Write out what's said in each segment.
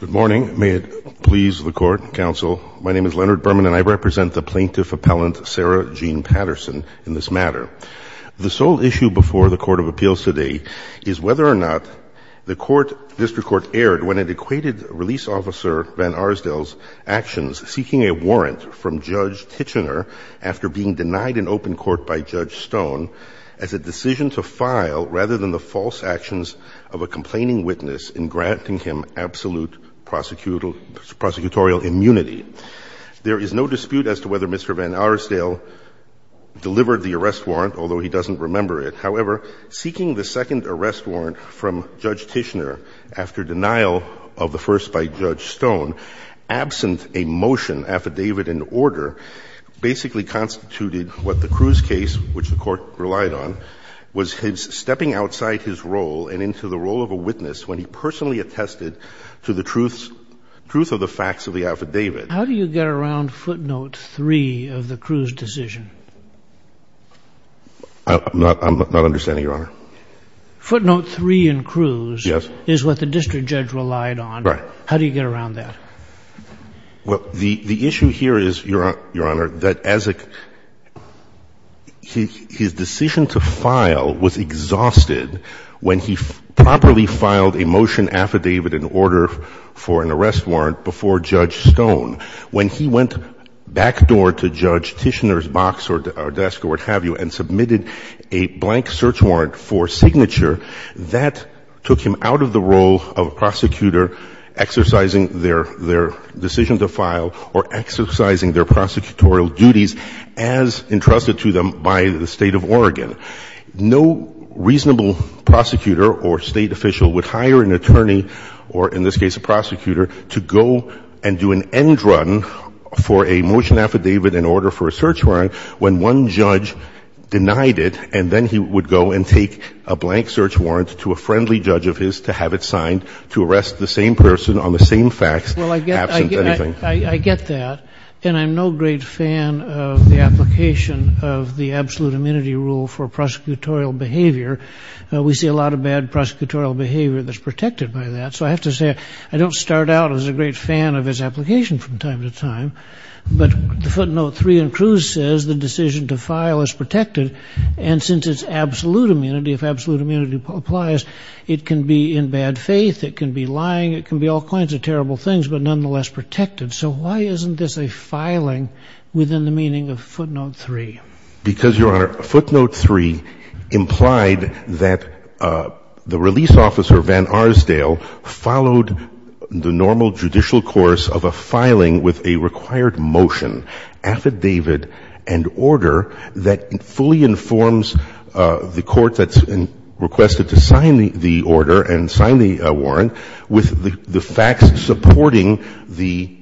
Good morning. May it please the Court, Counsel. My name is Leonard Berman, and I represent the plaintiff-appellant Sarah Jean Patterson in this matter. The sole issue before the Court of Appeals today is whether or not the District Court erred when it equated Release Officer Van Arsdel's actions seeking a warrant from Judge Tichenor after being denied an open court by Judge Stone as a decision to file, rather than the false actions of a complaining witness in granting him absolute prosecutorial immunity. There is no dispute as to whether Mr. Van Arsdel delivered the arrest warrant, although he doesn't remember it. However, seeking the second arrest warrant from Judge Tichenor after denial of the first by Judge Stone, absent a motion affidavit in order, basically constituted what the Cruz case, which the Court relied on, was stepping outside his role and into the role of a witness when he personally attested to the truth of the facts of the affidavit. How do you get around footnote 3 of the Cruz decision? I'm not understanding, Your Honor. Footnote 3 in Cruz is what the district judge relied on. Right. How do you get around that? Well, the issue here is, Your Honor, that as a — his decision to file was exhausted when he properly filed a motion affidavit in order for an arrest warrant before Judge Stone. When he went back door to Judge Tichenor's box or desk or what have you and submitted a blank search warrant for signature, that took him out of the role of a prosecutor exercising their — their decision to file or exercising their prosecutorial duties as entrusted to them by the State of Oregon. No reasonable prosecutor or State official would hire an attorney or, in this case, a prosecutor to go and do an end run for a motion affidavit in order for a search warrant when one judge denied it, and then he would go and take a blank search warrant to a friendly judge of his to have it signed to arrest the same person on the same facts absent anything. Well, I get that, and I'm no great fan of the application of the absolute immunity rule for prosecutorial behavior. We see a lot of bad prosecutorial behavior that's protected by that, so I have to say I don't start out as a great fan of his application from time to time. But the footnote 3 in Cruz says the decision to file is protected, and since it's absolute immunity applies, it can be in bad faith, it can be lying, it can be all kinds of terrible things, but nonetheless protected. So why isn't this a filing within the meaning of footnote 3? Because, Your Honor, footnote 3 implied that the release officer, Van Arsdale, followed the normal judicial course of a filing with a required motion, affidavit, and order that fully informs the court that's requested to sign the order and sign the warrant with the facts supporting the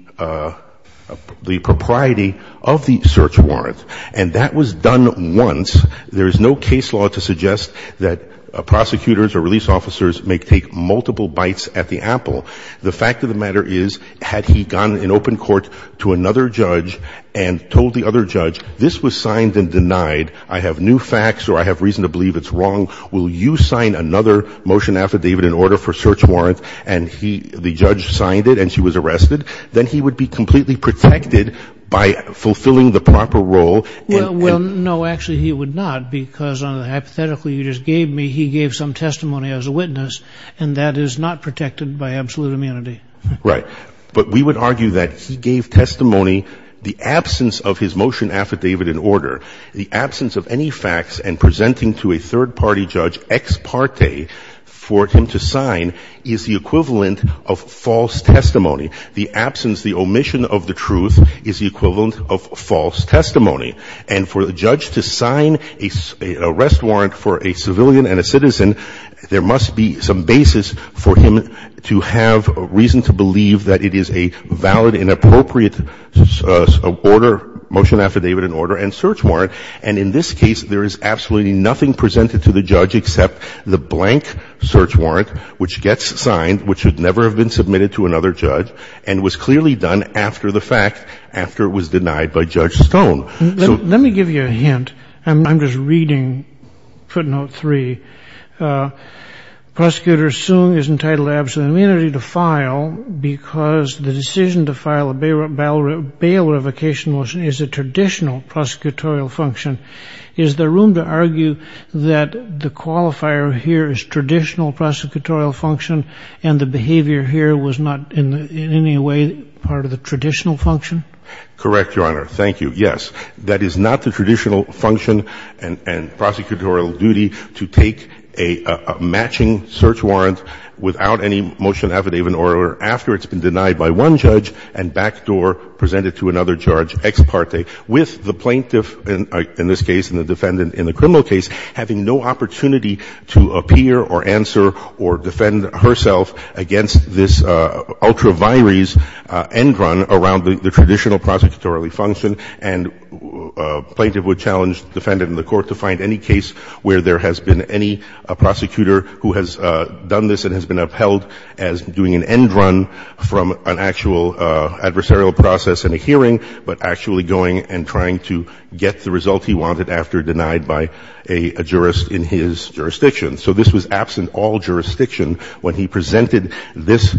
propriety of the search warrant. And that was done once. There is no case law to suggest that prosecutors or release officers may take multiple bites at the apple. The fact of the matter is, had he gone in open court to another judge and told the other judge, this was signed and denied, I have new facts or I have reason to believe it's wrong, will you sign another motion affidavit in order for search warrant, and the judge signed it and she was arrested, then he would be completely protected by fulfilling the proper role. Well, no, actually he would not, because hypothetically you just gave me he gave some testimony as a witness, and that is not protected by absolute immunity. Right. But we would argue that he gave testimony, the absence of his motion affidavit and order, the absence of any facts and presenting to a third party judge ex parte for him to sign is the equivalent of false testimony. The absence, the omission of the truth is the equivalent of false testimony. And for the judge to sign a arrest warrant for a civilian and a citizen, there must be some basis for him to have reason to believe that it is a valid and appropriate order, motion affidavit and order, and search warrant. And in this case, there is absolutely nothing presented to the judge except the blank search warrant which gets signed, which should never have been submitted to another judge, and was clearly done after the fact, after it was denied by Judge Stone. Let me give you a hint. I'm just reading footnote three. Prosecutor Soong is entitled to absolute immunity to file because the decision to file a bail revocation motion is a traditional prosecutorial function. Is there room to argue that the qualifier here is traditional prosecutorial function, and the behavior here was not in any way part of the traditional function? Correct, Your Honor. Thank you. Yes, that is not the traditional function and prosecutorial duty to take a matching search warrant without any motion affidavit or after it's been denied by one judge and backdoor present it to another judge ex parte, with the plaintiff in this case and the defendant in the criminal case having no opportunity to appear or answer or defend herself against this ultra vires end run around the traditional prosecutorial function, and a plaintiff would challenge the defendant in the court to find any case where there has been any prosecutor who has done this and has been upheld as doing an end run from an actual adversarial process in a hearing, but actually going and trying to get the result he wanted after denied by a jurist in his jurisdiction. So this was absent all jurisdiction when he presented this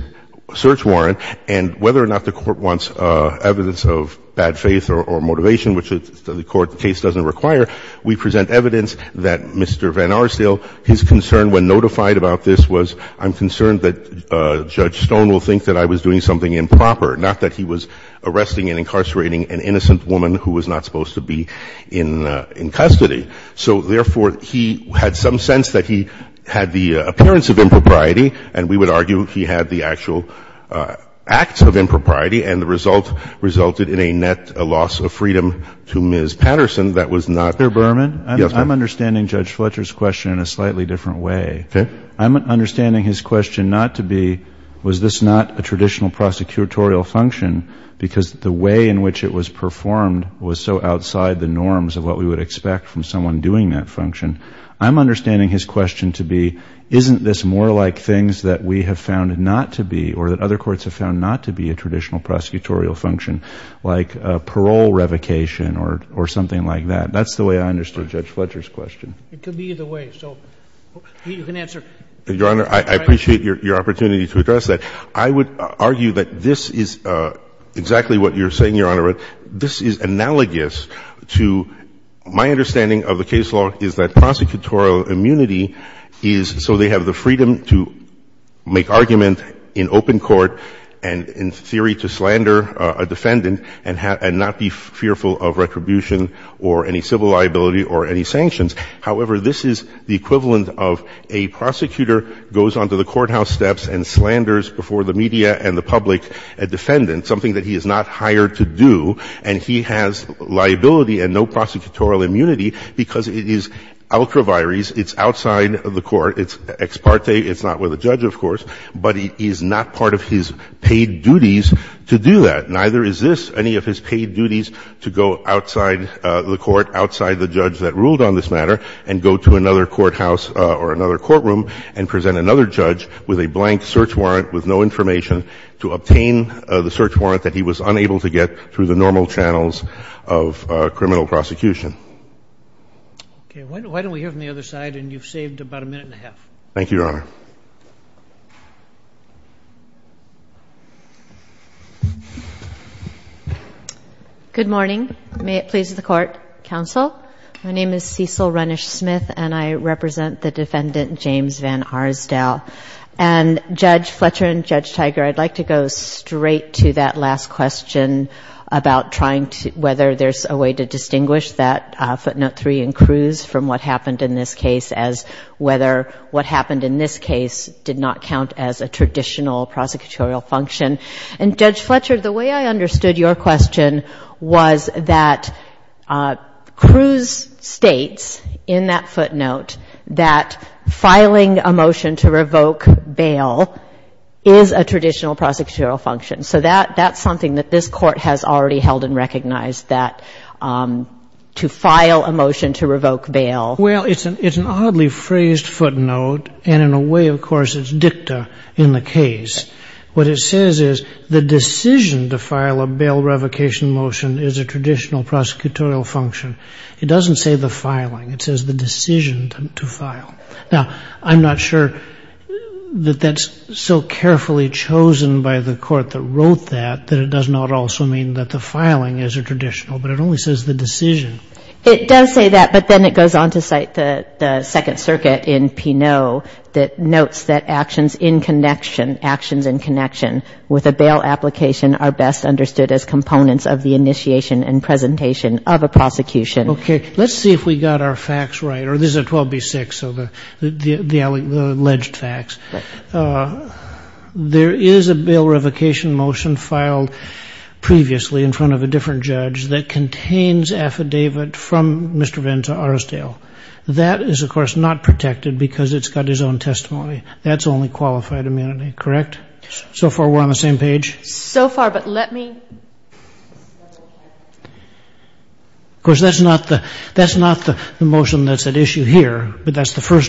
search warrant. And whether or not the Court wants evidence of bad faith or motivation, which the Court case doesn't require, we present evidence that Mr. Van Arsdale, his concern when notified about this was, I'm concerned that Judge Stone will think that I was doing something improper, not that he was arresting and incarcerating an innocent woman who was not supposed to be in custody. So therefore, he had some sense that he had the appearance of impropriety, and we would argue he had the actual act of impropriety, and the result resulted in a net loss of freedom to Ms. Patterson that was not the case. I'm not saying that this is a traditional prosecutorial function because the way in which it was performed was so outside the norms of what we would expect from someone doing that function. I'm understanding his question to be, isn't this more like things that we have found not to be, or that other courts have found not to be a traditional prosecutorial function, like parole revocation or something like that? That's the way I understood Judge Fletcher's question. It could be either way. So you can answer. Your Honor, I appreciate your opportunity to address that. I would argue that this is exactly what you're saying, Your Honor. This is analogous to my understanding of the case law is that prosecutorial immunity is so they have the freedom to make argument in open court and in theory to slander a defendant and not be fearful of retribution or any civil liability or any sanctions. However, this is the equivalent of a prosecutor goes onto the courthouse steps and slanders before the media and the public a defendant, something that he is not hired to do, and he has liability and no prosecutorial immunity because it is outraviaries, it's outside the court, it's ex parte, it's not with a judge, of course, but it is not part of his paid duties to do that. Neither is this any of his paid duties to go outside the court, outside the judge that ruled on this matter, and go to another courthouse or another courtroom and present another judge with a blank search warrant with no information to obtain the search warrant that he was unable to get through the normal channels of criminal prosecution. Okay. Why don't we hear from the other side, and you've saved about a minute and a half. Thank you, Your Honor. Good morning. May it please the court, counsel. My name is Cecil Runnish-Smith and I represent the defendant, James Van Arsdale. And Judge Fletcher and Judge Tiger, I'd like to go straight to that last question about whether there's a way to distinguish that footnote three in Cruz from what happened in this case as whether what happened in this case did not count as a traditional prosecutorial function. And Judge Fletcher, the way I understood your question was that Cruz states in that footnote that filing a motion to revoke bail is a traditional prosecutorial function. So that's something that this Court has already held and recognized, that to file a motion to revoke bail. Well, it's an oddly phrased footnote, and in a way, of course, it's dicta in the case. What it says is the decision to file a bail revocation motion is a traditional prosecutorial function. It doesn't say the filing. It says the decision to file. Now, I'm not sure that that's so carefully chosen by the Court that wrote that, that it does not also mean that the filing is a traditional, but it only says the decision. It does say that, but then it goes on to cite the Second Circuit in Pinot that notes that actions in connection, actions in connection with a bail application are best avoided. So that's the alleged facts. There is a bail revocation motion filed previously in front of a different judge that contains affidavit from Mr. Venn to Arsdale. That is, of course, not protected because it's got his own testimony. That's only qualified immunity, correct? So far we're on the first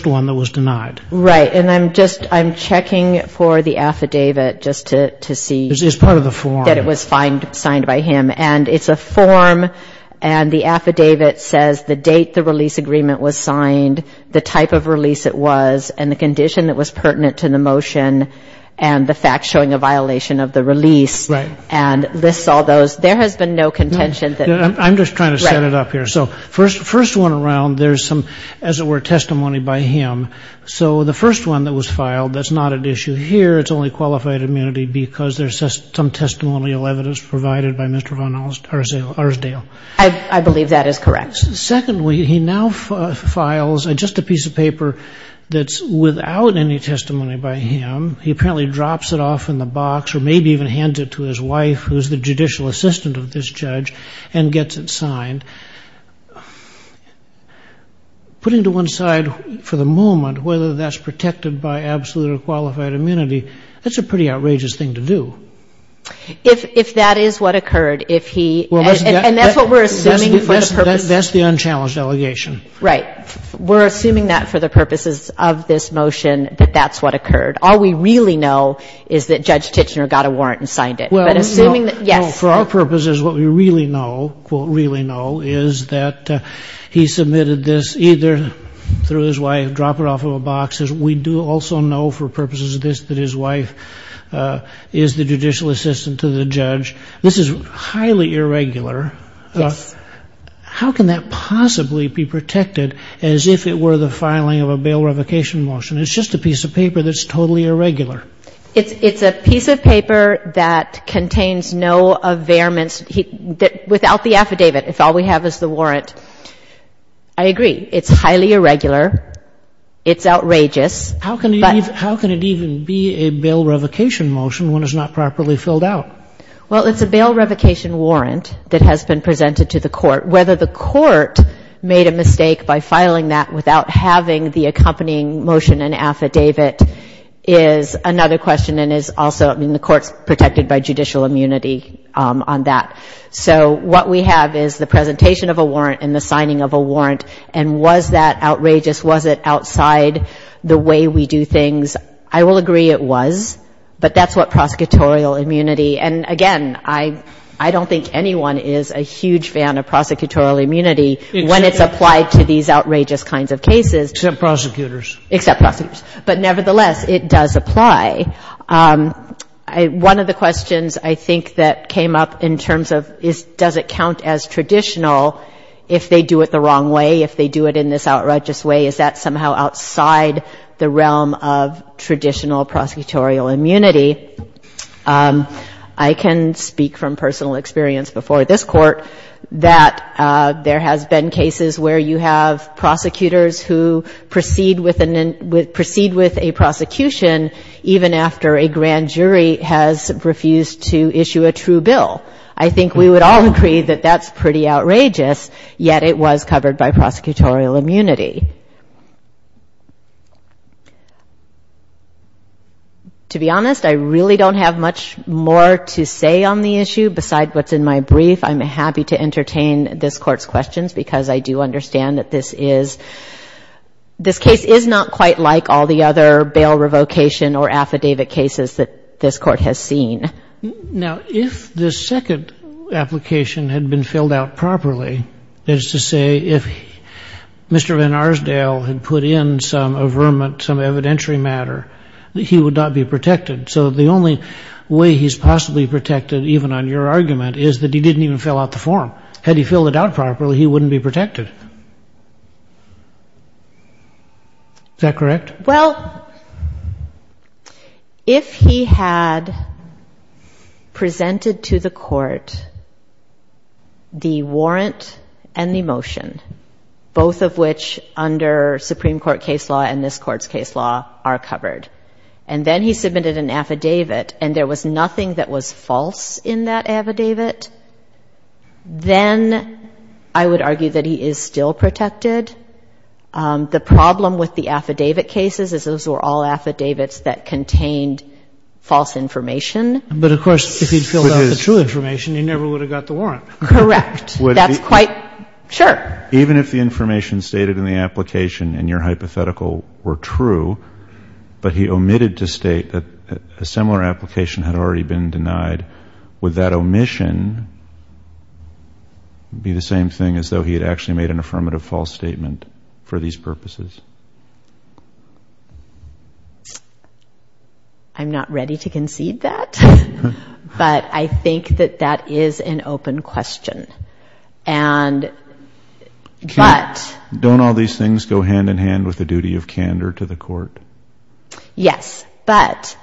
one that was denied. Right. And I'm just, I'm checking for the affidavit just to see. It's part of the form. That it was signed by him. And it's a form, and the affidavit says the date the release agreement was signed, the type of release it was, and the condition that was pertinent to the release agreement. So the first one that was filed, that's not an issue here. It's only qualified immunity because there's some testimonial evidence provided by Mr. Venn or Arsdale. I believe that is correct. Secondly, he now files just a piece of paper that's without any testimony by him. He apparently drops it off in the box or maybe even hands it to his wife, who's the judicial representative, to see if for the moment whether that's protected by absolute or qualified immunity. That's a pretty outrageous thing to do. If that is what occurred, if he, and that's what we're assuming for the purpose. That's the unchallenged allegation. Right. We're assuming that for the purposes of this motion, that that's what occurred. All we really know is that Judge Tichenor got a warrant and signed it. For our purposes, what we really know, quote, really know, is that he submitted this either through his wife, drop it off of a box. We do also know for purposes of this that his wife is the judicial assistant to the judge. This is highly irregular. Yes. How can that possibly be protected as if it were the filing of a bail revocation motion? It's just a piece of paper that's totally irregular. It's a piece of paper that contains no availments without the affidavit, if all we have is the warrant. I agree. It's highly irregular. It's outrageous. How can it even be a bail revocation motion when it's not properly filled out? Well, it's a bail revocation warrant that has been presented to the court. Whether the court made a mistake by filing that without having the accompanying motion and affidavit is another question and is also, I mean, the court's protected by judicial immunity on that. So what we have is the presentation of a warrant and the signing of a warrant, and was that outrageous? Was it outside the way we do things? I will agree it was, but that's what it was. And again, I don't think anyone is a huge fan of prosecutorial immunity when it's applied to these outrageous kinds of cases. Except prosecutors. Except prosecutors. But nevertheless, it does apply. One of the questions I think that came up in terms of does it count as traditional if they do it the wrong way, if they do it in this outrageous way, is that somehow outside the realm of traditional prosecutorial immunity, I can speak from personal experience before this court that there has been cases where you have prosecutors who proceed with a prosecution even after a grand jury has refused to issue a true bill. I think we would all agree that that's pretty outrageous, yet it was covered by prosecutorial immunity. To be honest, I really don't have much more to say on the issue besides what's in my brief. I'm happy to entertain this Court's questions, because I do understand that this is, this case is not quite like all the other bail revocation or affidavit cases that this Court has seen. Now, if the second application had been filled out properly, that is to say if Mr. Van Schaaf had submitted a confidentiality matter, he would not be protected. So the only way he's possibly protected, even on your argument, is that he didn't even fill out the form. Had he filled it out properly, he wouldn't be protected. Is that correct? Well, if he had presented to the Court the warrant and the motion, both of which under Supreme Court case law and this Court's case law are covered, and then he submitted an affidavit and there was nothing that was false in that affidavit, then I would argue that he is still protected. The problem with the affidavit cases is those were all affidavits that contained false information. But, of course, if he'd filled out the true information, he never would have got the warrant. Correct. That's quite sure. Even if the information stated in the application in your hypothetical were true, but he omitted to state that a similar application had already been denied, would that omission be the same thing as though he had actually made an affirmative false statement for these purposes? I'm not ready to concede that. But I think that that is an open question. And don't all these things go hand in hand with the duty of candor to the Court? Yes. But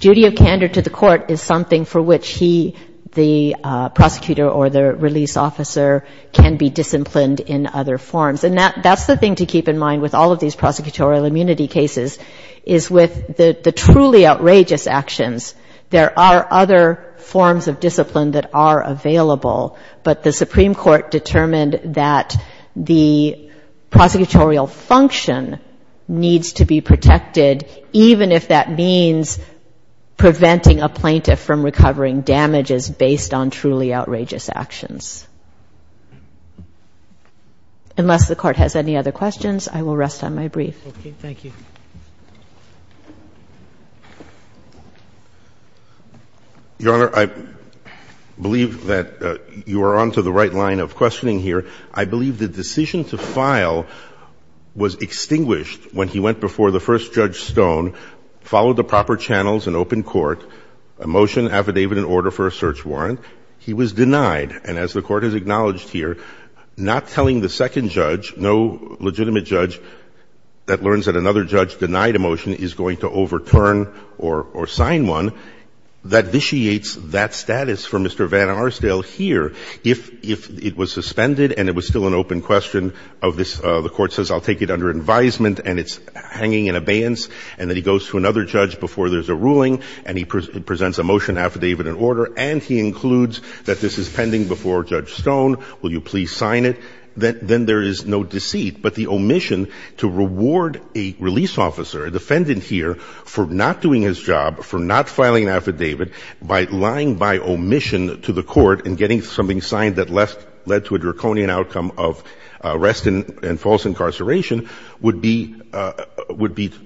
duty of candor to the Court is something for which he, the prosecutor or the release officer, can be disciplined in other forms. And that's the thing to keep in mind with all of these prosecutorial immunity cases, is with the truly outrageous actions, there are other forms of discipline that are available, but the Supreme Court determined that the prosecutorial function needs to be protected, even if that means preventing a plaintiff from recovering damages based on truly outrageous actions. Unless the Court has any other questions, I will rest on my brief. Okay. Thank you. Your Honor, I believe that you are on to the right line of questioning here. I believe the decision to file was extinguished when he went before the first Judge Stone, followed the proper channels in open court, a motion, affidavit and order for a search warrant. He was denied. And as the Court has acknowledged here, not telling the second judge, no legitimate judge that learns that another judge denied a motion is going to overturn or sign one, that vitiates that status for Mr. Van Arsdale here. If it was suspended and it was still an open question of this, the Court says, I'll take it under advisement, and it's hanging in abeyance, and then he goes to another judge before there's a ruling, and he presents a motion, affidavit and order, and he includes that this is pending before Judge Stone, will you please sign it, then there is no deceit, but the omission to reward a release officer, a defendant here, for not doing his job, for not filing an affidavit, by lying by omission to the Court and getting something signed that led to a draconian outcome of arrest and false incarceration, would be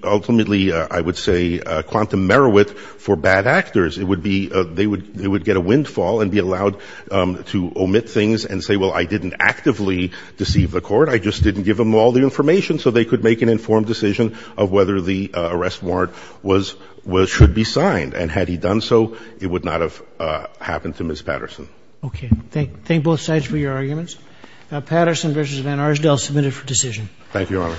ultimately, I would say, quantum merriwit for bad actors. It would be, they would get a windfall and be allowed to omit things and say, well, I didn't actively deceive the Court, I just didn't give them all the information so they could make an informed decision of whether the arrest warrant was, should be signed, and had he done so, it would not have happened to Ms. Patterson. Okay. Thank both sides for your arguments. Patterson v. Van Arsdale, submitted for decision. Thank you, Your Honor.